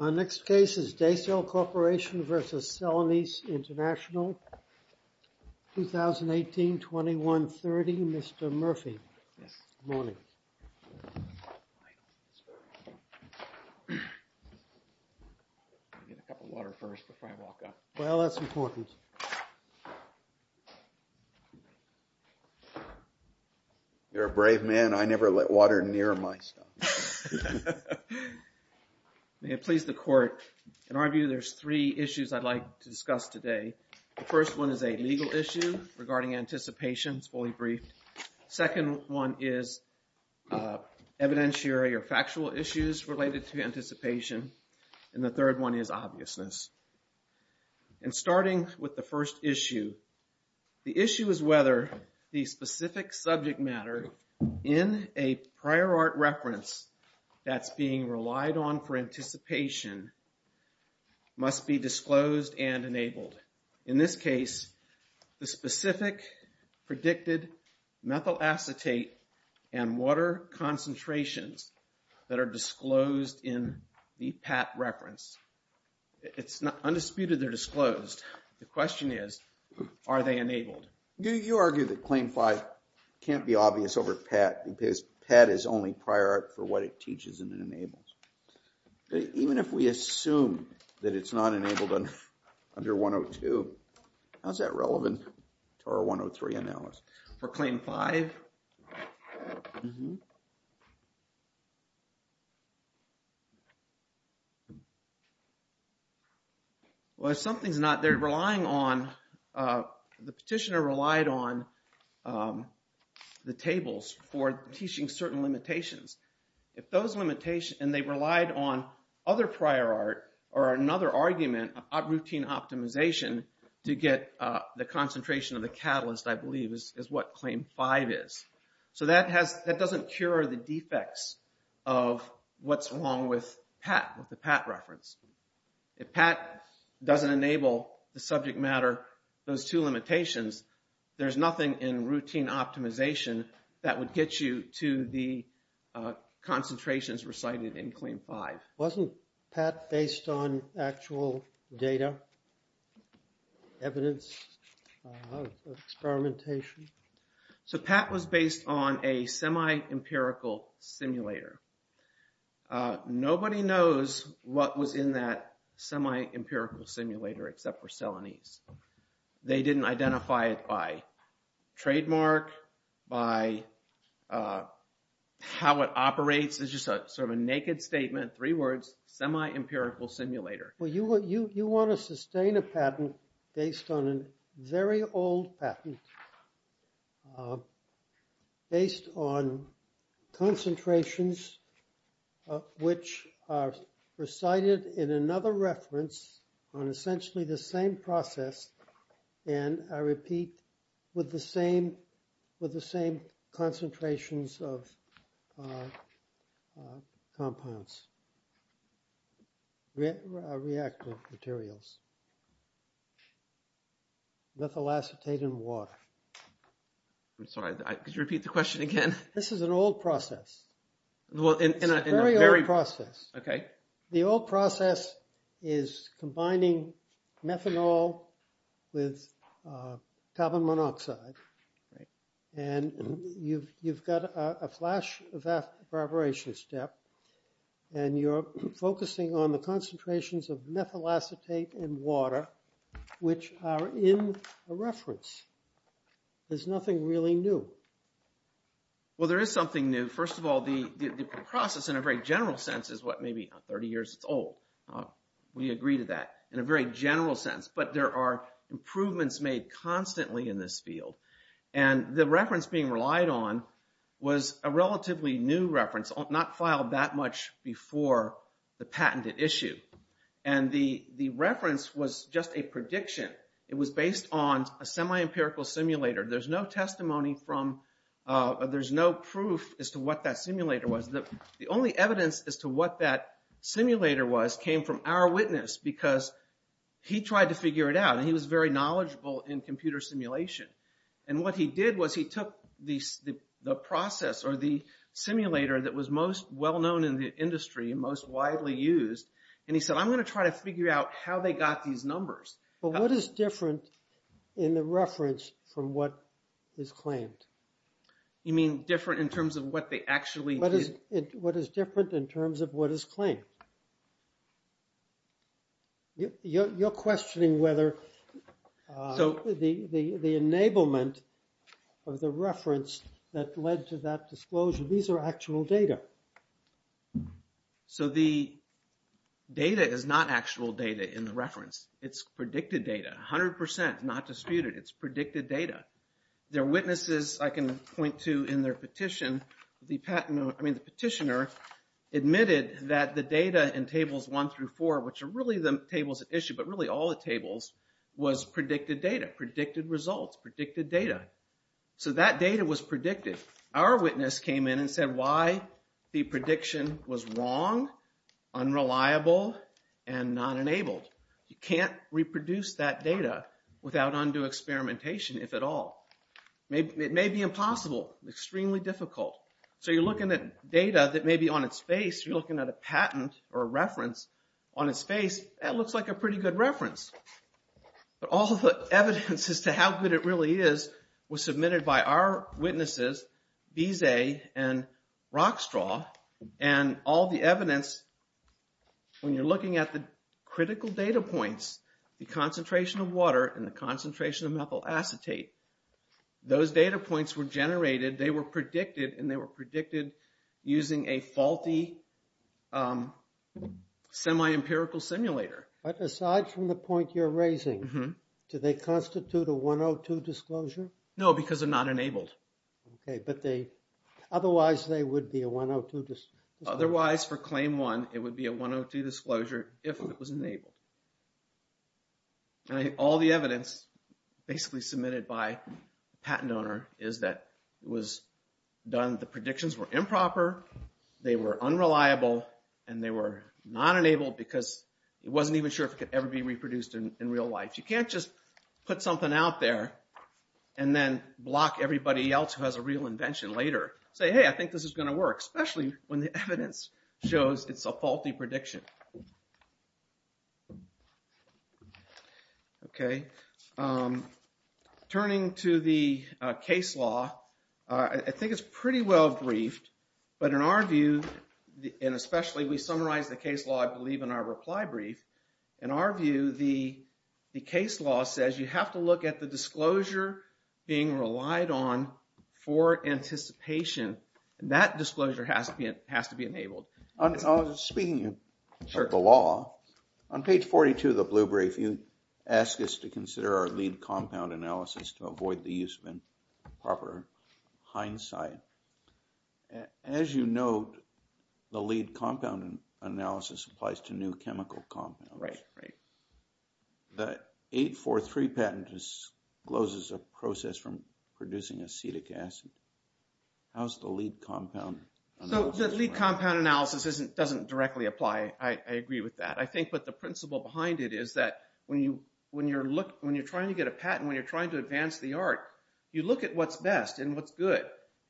Our next case is Daicel Corporation v. Celanese International, 2018-2130, Mr. Murphy. Good morning. I'll get a cup of water first before I walk up. Well, that's important. You're a brave man. I never let water near my stuff. May it please the court, in our view there's three issues I'd like to discuss today. The first one is a legal issue regarding anticipation. It's fully briefed. Second one is evidentiary or factual issues related to anticipation. And the third one is obviousness. And starting with the first issue, the issue is whether the specific subject matter in a prior art reference that's being relied on for anticipation must be disclosed and enabled. In this case, the specific predicted methyl acetate and water concentrations that are disclosed in the PAT reference. It's not undisputed they're disclosed. The question is, are they enabled? You argue that Claim 5 can't be obvious over PAT because PAT is only prior art for what it teaches and enables. Even if we assume that it's not enabled under 102, how is that relevant to our 103 analysis? For Claim 5? Well, if something's not there relying on, the petitioner relied on the tables for teaching certain limitations. And they relied on other prior art or another argument of routine optimization to get the concentration of the catalyst, I believe, is what Claim 5 is. So that doesn't cure the defects of what's wrong with PAT, with the PAT reference. If PAT doesn't enable the subject matter, those two limitations, there's nothing in routine optimization that would get you to the concentrations recited in Claim 5. Wasn't PAT based on actual data, evidence, experimentation? So PAT was based on a semi-empirical simulator. Nobody knows what was in that semi-empirical simulator except for Celanese. They didn't identify it by trademark, by how it operates. It's just sort of a naked statement, three words, semi-empirical simulator. Well, you want to sustain a patent based on a very old patent, based on concentrations which are recited in another reference on essentially the same process, and I repeat, with the same concentrations of compounds, reactive materials, methyl acetate and water. I'm sorry, could you repeat the question again? This is an old process. It's a very old process. Okay. The old process is combining methanol with carbon monoxide, and you've got a flash evaporation step, and you're focusing on the concentrations of methyl acetate and water, which are in a reference. There's nothing really new. Well, there is something new. First of all, the process in a very general sense is what, maybe 30 years old. We agree to that in a very general sense, but there are improvements made constantly in this field. And the reference being relied on was a relatively new reference, not filed that much before the patented issue. And the reference was just a prediction. It was based on a semi-empirical simulator. There's no testimony from, there's no proof as to what that simulator was. The only evidence as to what that simulator was came from our witness, because he tried to figure it out, and he was very knowledgeable in computer simulation. And what he did was he took the process or the simulator that was most well-known in the industry and most widely used, and he said, I'm going to try to figure out how they got these numbers. But what is different in the reference from what is claimed? You mean different in terms of what they actually did? What is different in terms of what is claimed? You're questioning whether the enablement of the reference that led to that disclosure, these are actual data. So the data is not actual data in the reference. It's predicted data, 100%, not disputed. It's predicted data. There are witnesses I can point to in their petition. The petitioner admitted that the data in tables one through four, which are really the tables at issue, but really all the tables, was predicted data, predicted results, predicted data. So that data was predicted. Our witness came in and said why the prediction was wrong, unreliable, and not enabled. You can't reproduce that data without undue experimentation, if at all. It may be impossible, extremely difficult. So you're looking at data that may be on its face. You're looking at a patent or a reference on its face. That looks like a pretty good reference. But all the evidence as to how good it really is was submitted by our witnesses, Bizet and Rockstraw, and all the evidence, when you're looking at the critical data points, the concentration of water and the concentration of methyl acetate, those data points were generated. They were predicted, and they were predicted using a faulty semi-empirical simulator. But aside from the point you're raising, do they constitute a 102 disclosure? No, because they're not enabled. Otherwise, they would be a 102 disclosure. Otherwise, for claim one, it would be a 102 disclosure if it was enabled. All the evidence basically submitted by the patent owner is that the predictions were improper, they were unreliable, and they were not enabled because it wasn't even sure if it could ever be reproduced in real life. You can't just put something out there and then block everybody else who has a real invention later. Say, hey, I think this is going to work, especially when the evidence shows it's a faulty prediction. Okay. Turning to the case law, I think it's pretty well briefed, but in our view, and especially we summarize the case law, I believe, in our reply brief. In our view, the case law says you have to look at the disclosure being relied on for anticipation, and that disclosure has to be enabled. Speaking of the law, on page 42 of the blue brief, you ask us to consider our lead compound analysis to avoid the use of improper hindsight. As you note, the lead compound analysis applies to new chemical compounds. Right, right. The 843 patent discloses a process from producing acetic acid. How's the lead compound analysis? The lead compound analysis doesn't directly apply. I agree with that. I think the principle behind it is that when you're trying to get a patent, when you're trying to advance the art, you look at what's best and what's good.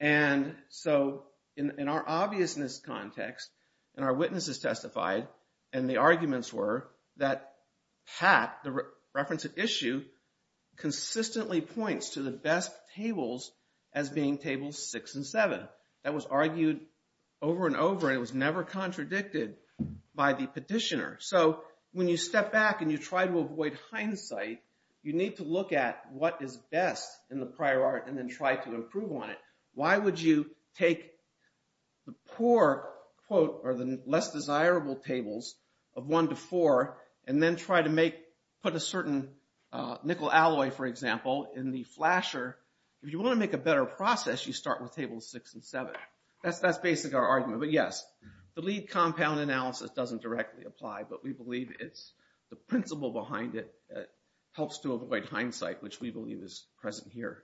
And so in our obviousness context, and our witnesses testified, and the arguments were that Pat, the reference at issue, consistently points to the best tables as being tables 6 and 7. That was argued over and over, and it was never contradicted by the petitioner. So when you step back and you try to avoid hindsight, you need to look at what is best in the prior art and then try to improve on it. Why would you take the poor, quote, or the less desirable tables of 1 to 4, and then try to put a certain nickel alloy, for example, in the flasher? If you want to make a better process, you start with tables 6 and 7. That's basically our argument. But yes, the lead compound analysis doesn't directly apply, but we believe it's the principle behind it that helps to avoid hindsight, which we believe is present here.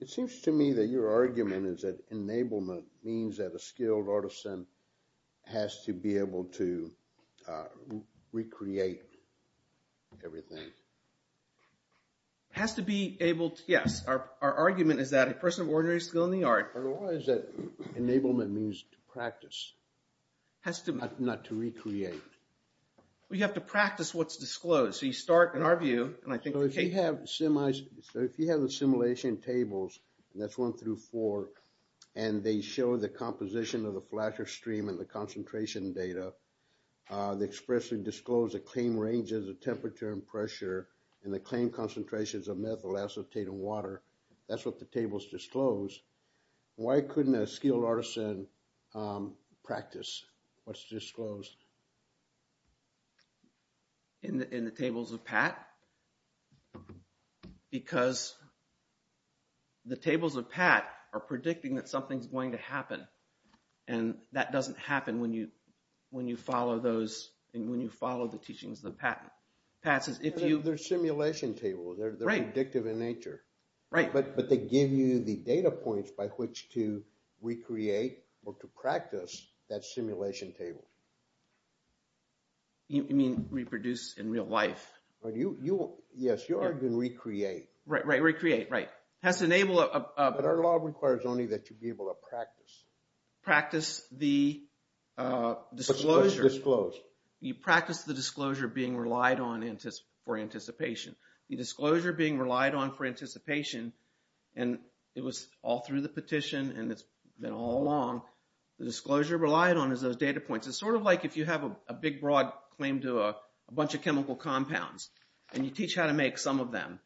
It seems to me that your argument is that enablement means that a skilled artisan has to be able to recreate everything. It has to be able – yes, our argument is that a person of ordinary skill in the art – Otherwise, enablement means to practice, not to recreate. We have to practice what's disclosed. So you start, in our view – If you have the simulation tables, and that's 1 through 4, and they show the composition of the flasher stream and the concentration data, they expressly disclose the claim ranges of temperature and pressure, and the claim concentrations of methyl acetate and water. That's what the table's disclosed. Why couldn't a skilled artisan practice what's disclosed? In the tables of PAT? Because the tables of PAT are predicting that something's going to happen, and that doesn't happen when you follow those – when you follow the teachings of the PAT. PATs is if you – They're simulation tables. They're predictive in nature. Right. But they give you the data points by which to recreate or to practice that simulation table. You mean reproduce in real life? Yes, your argument, recreate. Right, right, recreate, right. It has to enable – But our law requires only that you be able to practice. Practice the disclosure. What's disclosed? You practice the disclosure being relied on for anticipation. The disclosure being relied on for anticipation, and it was all through the petition, and it's been all along. The disclosure relied on is those data points. It's sort of like if you have a big, broad claim to a bunch of chemical compounds, and you teach how to make some of them,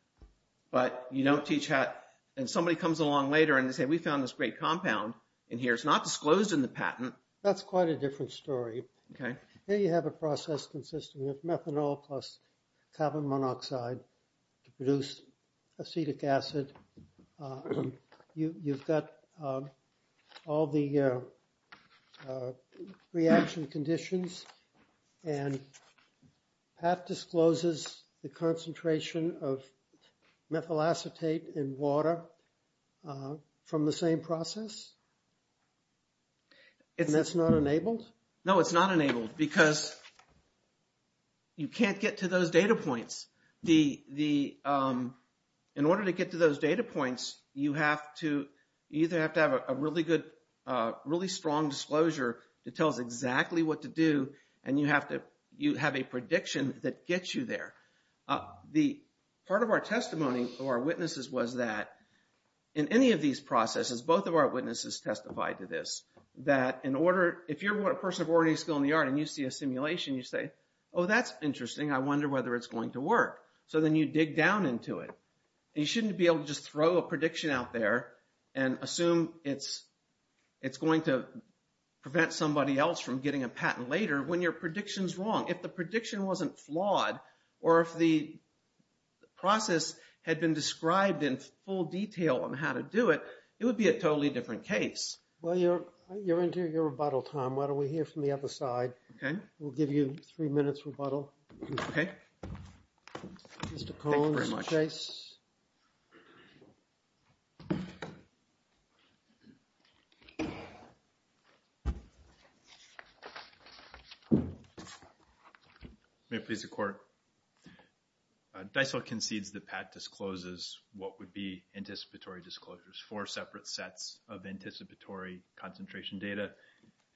but you don't teach how – and somebody comes along later, and they say, we found this great compound in here. It's not disclosed in the patent. That's quite a different story. Okay. Here you have a process consisting of methanol plus carbon monoxide to produce acetic acid. You've got all the reaction conditions, and Pat discloses the concentration of methyl acetate in water from the same process? And that's not enabled? No, it's not enabled because you can't get to those data points. In order to get to those data points, you have to – you either have to have a really good, really strong disclosure that tells exactly what to do, and you have to – you have a prediction that gets you there. Part of our testimony to our witnesses was that in any of these processes, both of our witnesses testified to this, that in order – if you're a person of ordinary skill in the art, and you see a simulation, you say, oh, that's interesting. I wonder whether it's going to work. So then you dig down into it. You shouldn't be able to just throw a prediction out there and assume it's going to prevent somebody else from getting a patent later when your prediction's wrong. If the prediction wasn't flawed, or if the process had been described in full detail on how to do it, it would be a totally different case. Well, you're into your rebuttal time. Why don't we hear from the other side? We'll give you three minutes rebuttal. Mr. Cohn, Mr. Chase. May it please the Court. DICEL concedes that Pat discloses what would be anticipatory disclosures, four separate sets of anticipatory concentration data,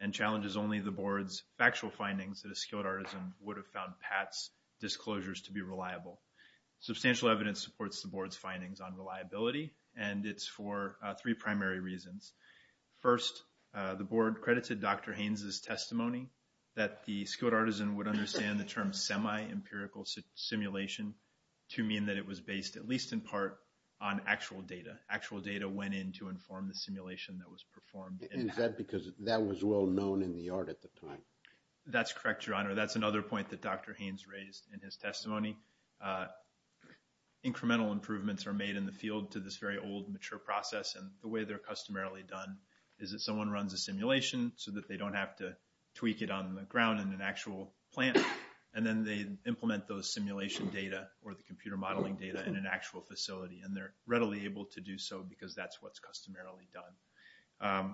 and challenges only the Board's factual findings that a skilled artisan would have found Pat's disclosures to be reliable. Substantial evidence supports the Board's findings on reliability, and it's for three primary reasons. First, the Board credited Dr. Haynes' testimony that the skilled artisan would understand the term semi-empirical simulation to mean that it was based at least in part on actual data. Actual data went in to inform the simulation that was performed. Is that because that was well known in the art at the time? That's correct, Your Honor. That's another point that Dr. Haynes raised in his testimony. Incremental improvements are made in the field to this very old, mature process, and the way they're customarily done is that someone runs a simulation so that they don't have to tweak it on the ground in an actual plant. And then they implement those simulation data or the computer modeling data in an actual facility, and they're readily able to do so because that's what's customarily done.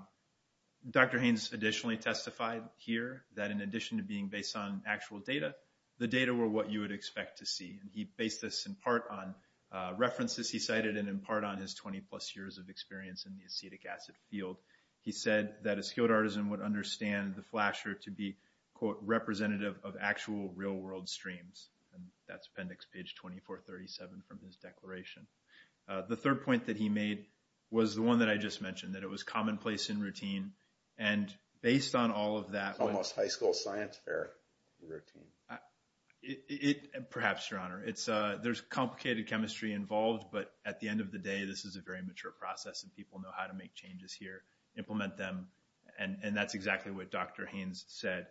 Dr. Haynes additionally testified here that in addition to being based on actual data, the data were what you would expect to see. And he based this in part on references he cited and in part on his 20-plus years of experience in the acetic acid field. He said that a skilled artisan would understand the flasher to be, quote, representative of actual real-world streams. And that's appendix page 2437 from his declaration. The third point that he made was the one that I just mentioned, that it was commonplace and routine. And based on all of that… Almost high school science fair routine. Perhaps, Your Honor. There's complicated chemistry involved, but at the end of the day, this is a very mature process, and people know how to make changes here, implement them. And that's exactly what Dr. Haynes said.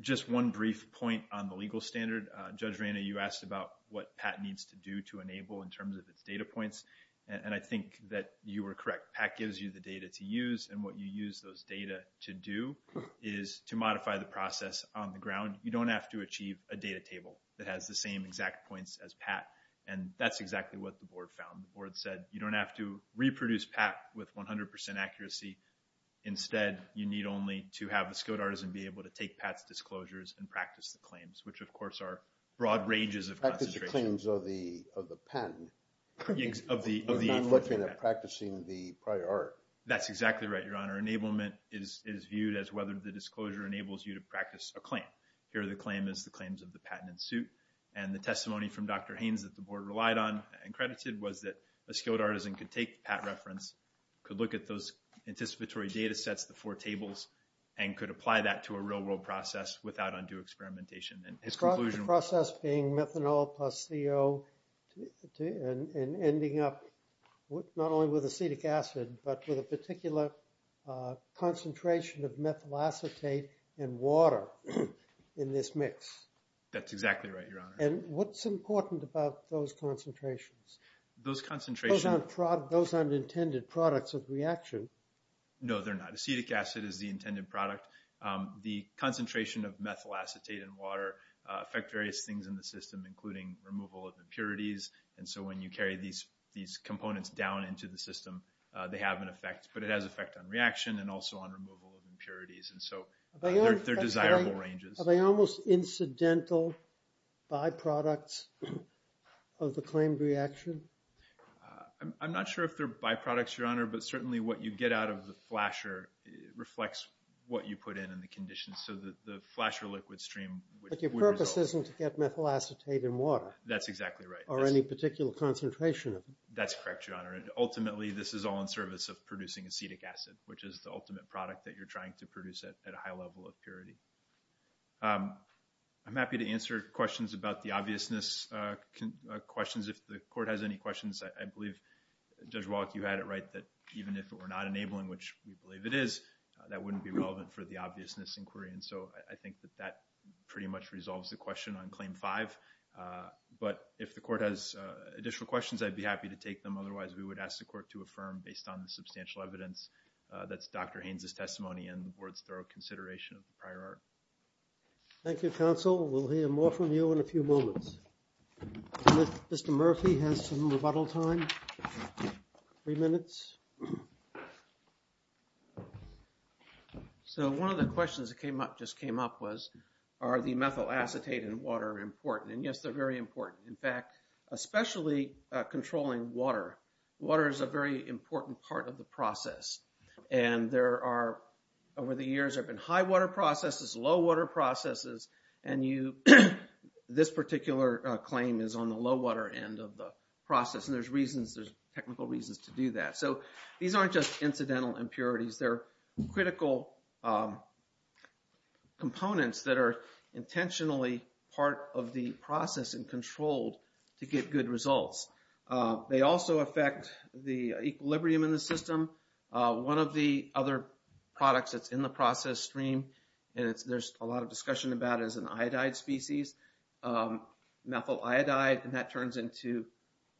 Just one brief point on the legal standard. Judge Reyna, you asked about what PAT needs to do to enable in terms of its data points, and I think that you were correct. PAT gives you the data to use, and what you use those data to do is to modify the process on the ground. You don't have to achieve a data table that has the same exact points as PAT, and that's exactly what the board found. The board said you don't have to reproduce PAT with 100% accuracy. Instead, you need only to have a skilled artisan be able to take PAT's disclosures and practice the claims, which, of course, are broad ranges of concentration. Practice the claims of the patent. You're not looking at practicing the prior art. That's exactly right, Your Honor. Enablement is viewed as whether the disclosure enables you to practice a claim. Here, the claim is the claims of the patent in suit, and the testimony from Dr. Haynes that the board relied on and credited was that a skilled artisan could take PAT reference, could look at those anticipatory data sets, the four tables, and could apply that to a real-world process without undue experimentation. The process being methanol plus CO and ending up not only with acetic acid, but with a particular concentration of methyl acetate and water in this mix. That's exactly right, Your Honor. And what's important about those concentrations? Those aren't intended products of reaction. No, they're not. Acetic acid is the intended product. The concentration of methyl acetate and water affect various things in the system, including removal of impurities. And so when you carry these components down into the system, they have an effect. But it has an effect on reaction and also on removal of impurities. And so they're desirable ranges. Are they almost incidental byproducts of the claimed reaction? I'm not sure if they're byproducts, Your Honor, but certainly what you get out of the flasher reflects what you put in and the conditions. So the flasher liquid stream would resolve. But your purpose isn't to get methyl acetate and water. That's exactly right. Or any particular concentration of it. That's correct, Your Honor. Ultimately, this is all in service of producing acetic acid, which is the ultimate product that you're trying to produce at a high level of purity. I'm happy to answer questions about the obviousness questions if the court has any questions. I believe, Judge Wallach, you had it right that even if it were not enabling, which we believe it is, that wouldn't be relevant for the obviousness inquiry. And so I think that that pretty much resolves the question on Claim 5. But if the court has additional questions, I'd be happy to take them. Otherwise, we would ask the court to affirm based on the substantial evidence. That's Dr. Haynes' testimony and the Board's thorough consideration of the prior art. Thank you, Counsel. We'll hear more from you in a few moments. Mr. Murphy has some rebuttal time. Three minutes. So one of the questions that just came up was, are the methyl acetate and water important? And, yes, they're very important. In fact, especially controlling water. Water is a very important part of the process. And there are – over the years, there have been high water processes, low water processes. And you – this particular claim is on the low water end of the process. And there's reasons – there's technical reasons to do that. So these aren't just incidental impurities. They're critical components that are intentionally part of the process and controlled to get good results. They also affect the equilibrium in the system. One of the other products that's in the process stream, and there's a lot of discussion about it, is an iodide species, methyl iodide. And that turns into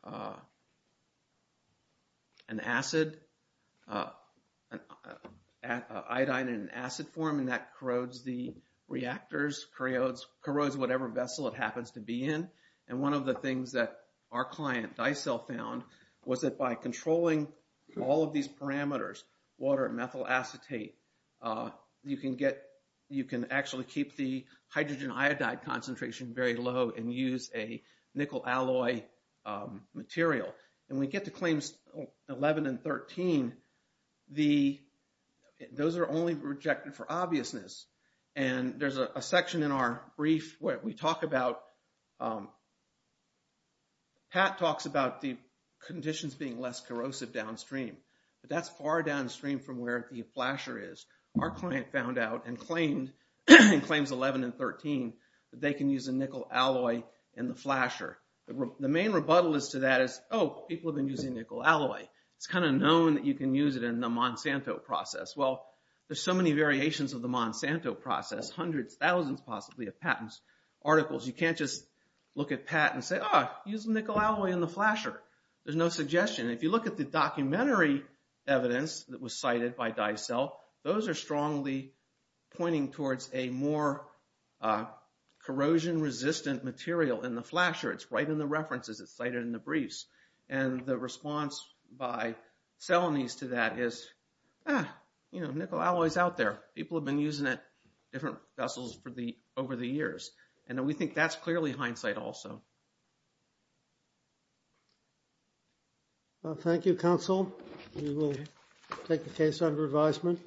an acid – iodide in an acid form. And that corrodes the reactors, corrodes whatever vessel it happens to be in. And one of the things that our client, Dicell, found was that by controlling all of these parameters, water and methyl acetate, you can get – you can actually keep the hydrogen iodide concentration very low and use a nickel alloy material. And we get to claims 11 and 13. The – those are only rejected for obviousness. And there's a section in our brief where we talk about – Pat talks about the conditions being less corrosive downstream. But that's far downstream from where the flasher is. Our client found out and claimed in claims 11 and 13 that they can use a nickel alloy in the flasher. The main rebuttal to that is, oh, people have been using nickel alloy. It's kind of known that you can use it in the Monsanto process. Well, there's so many variations of the Monsanto process, hundreds, thousands possibly of patents, articles. You can't just look at patents and say, oh, use nickel alloy in the flasher. There's no suggestion. If you look at the documentary evidence that was cited by Dicell, those are strongly pointing towards a more corrosion-resistant material in the flasher. It's right in the references. It's cited in the briefs. And the response by Celanese to that is, ah, you know, nickel alloy is out there. People have been using it in different vessels for the – over the years. And we think that's clearly hindsight also. Well, thank you, counsel. We will take the case under advisement.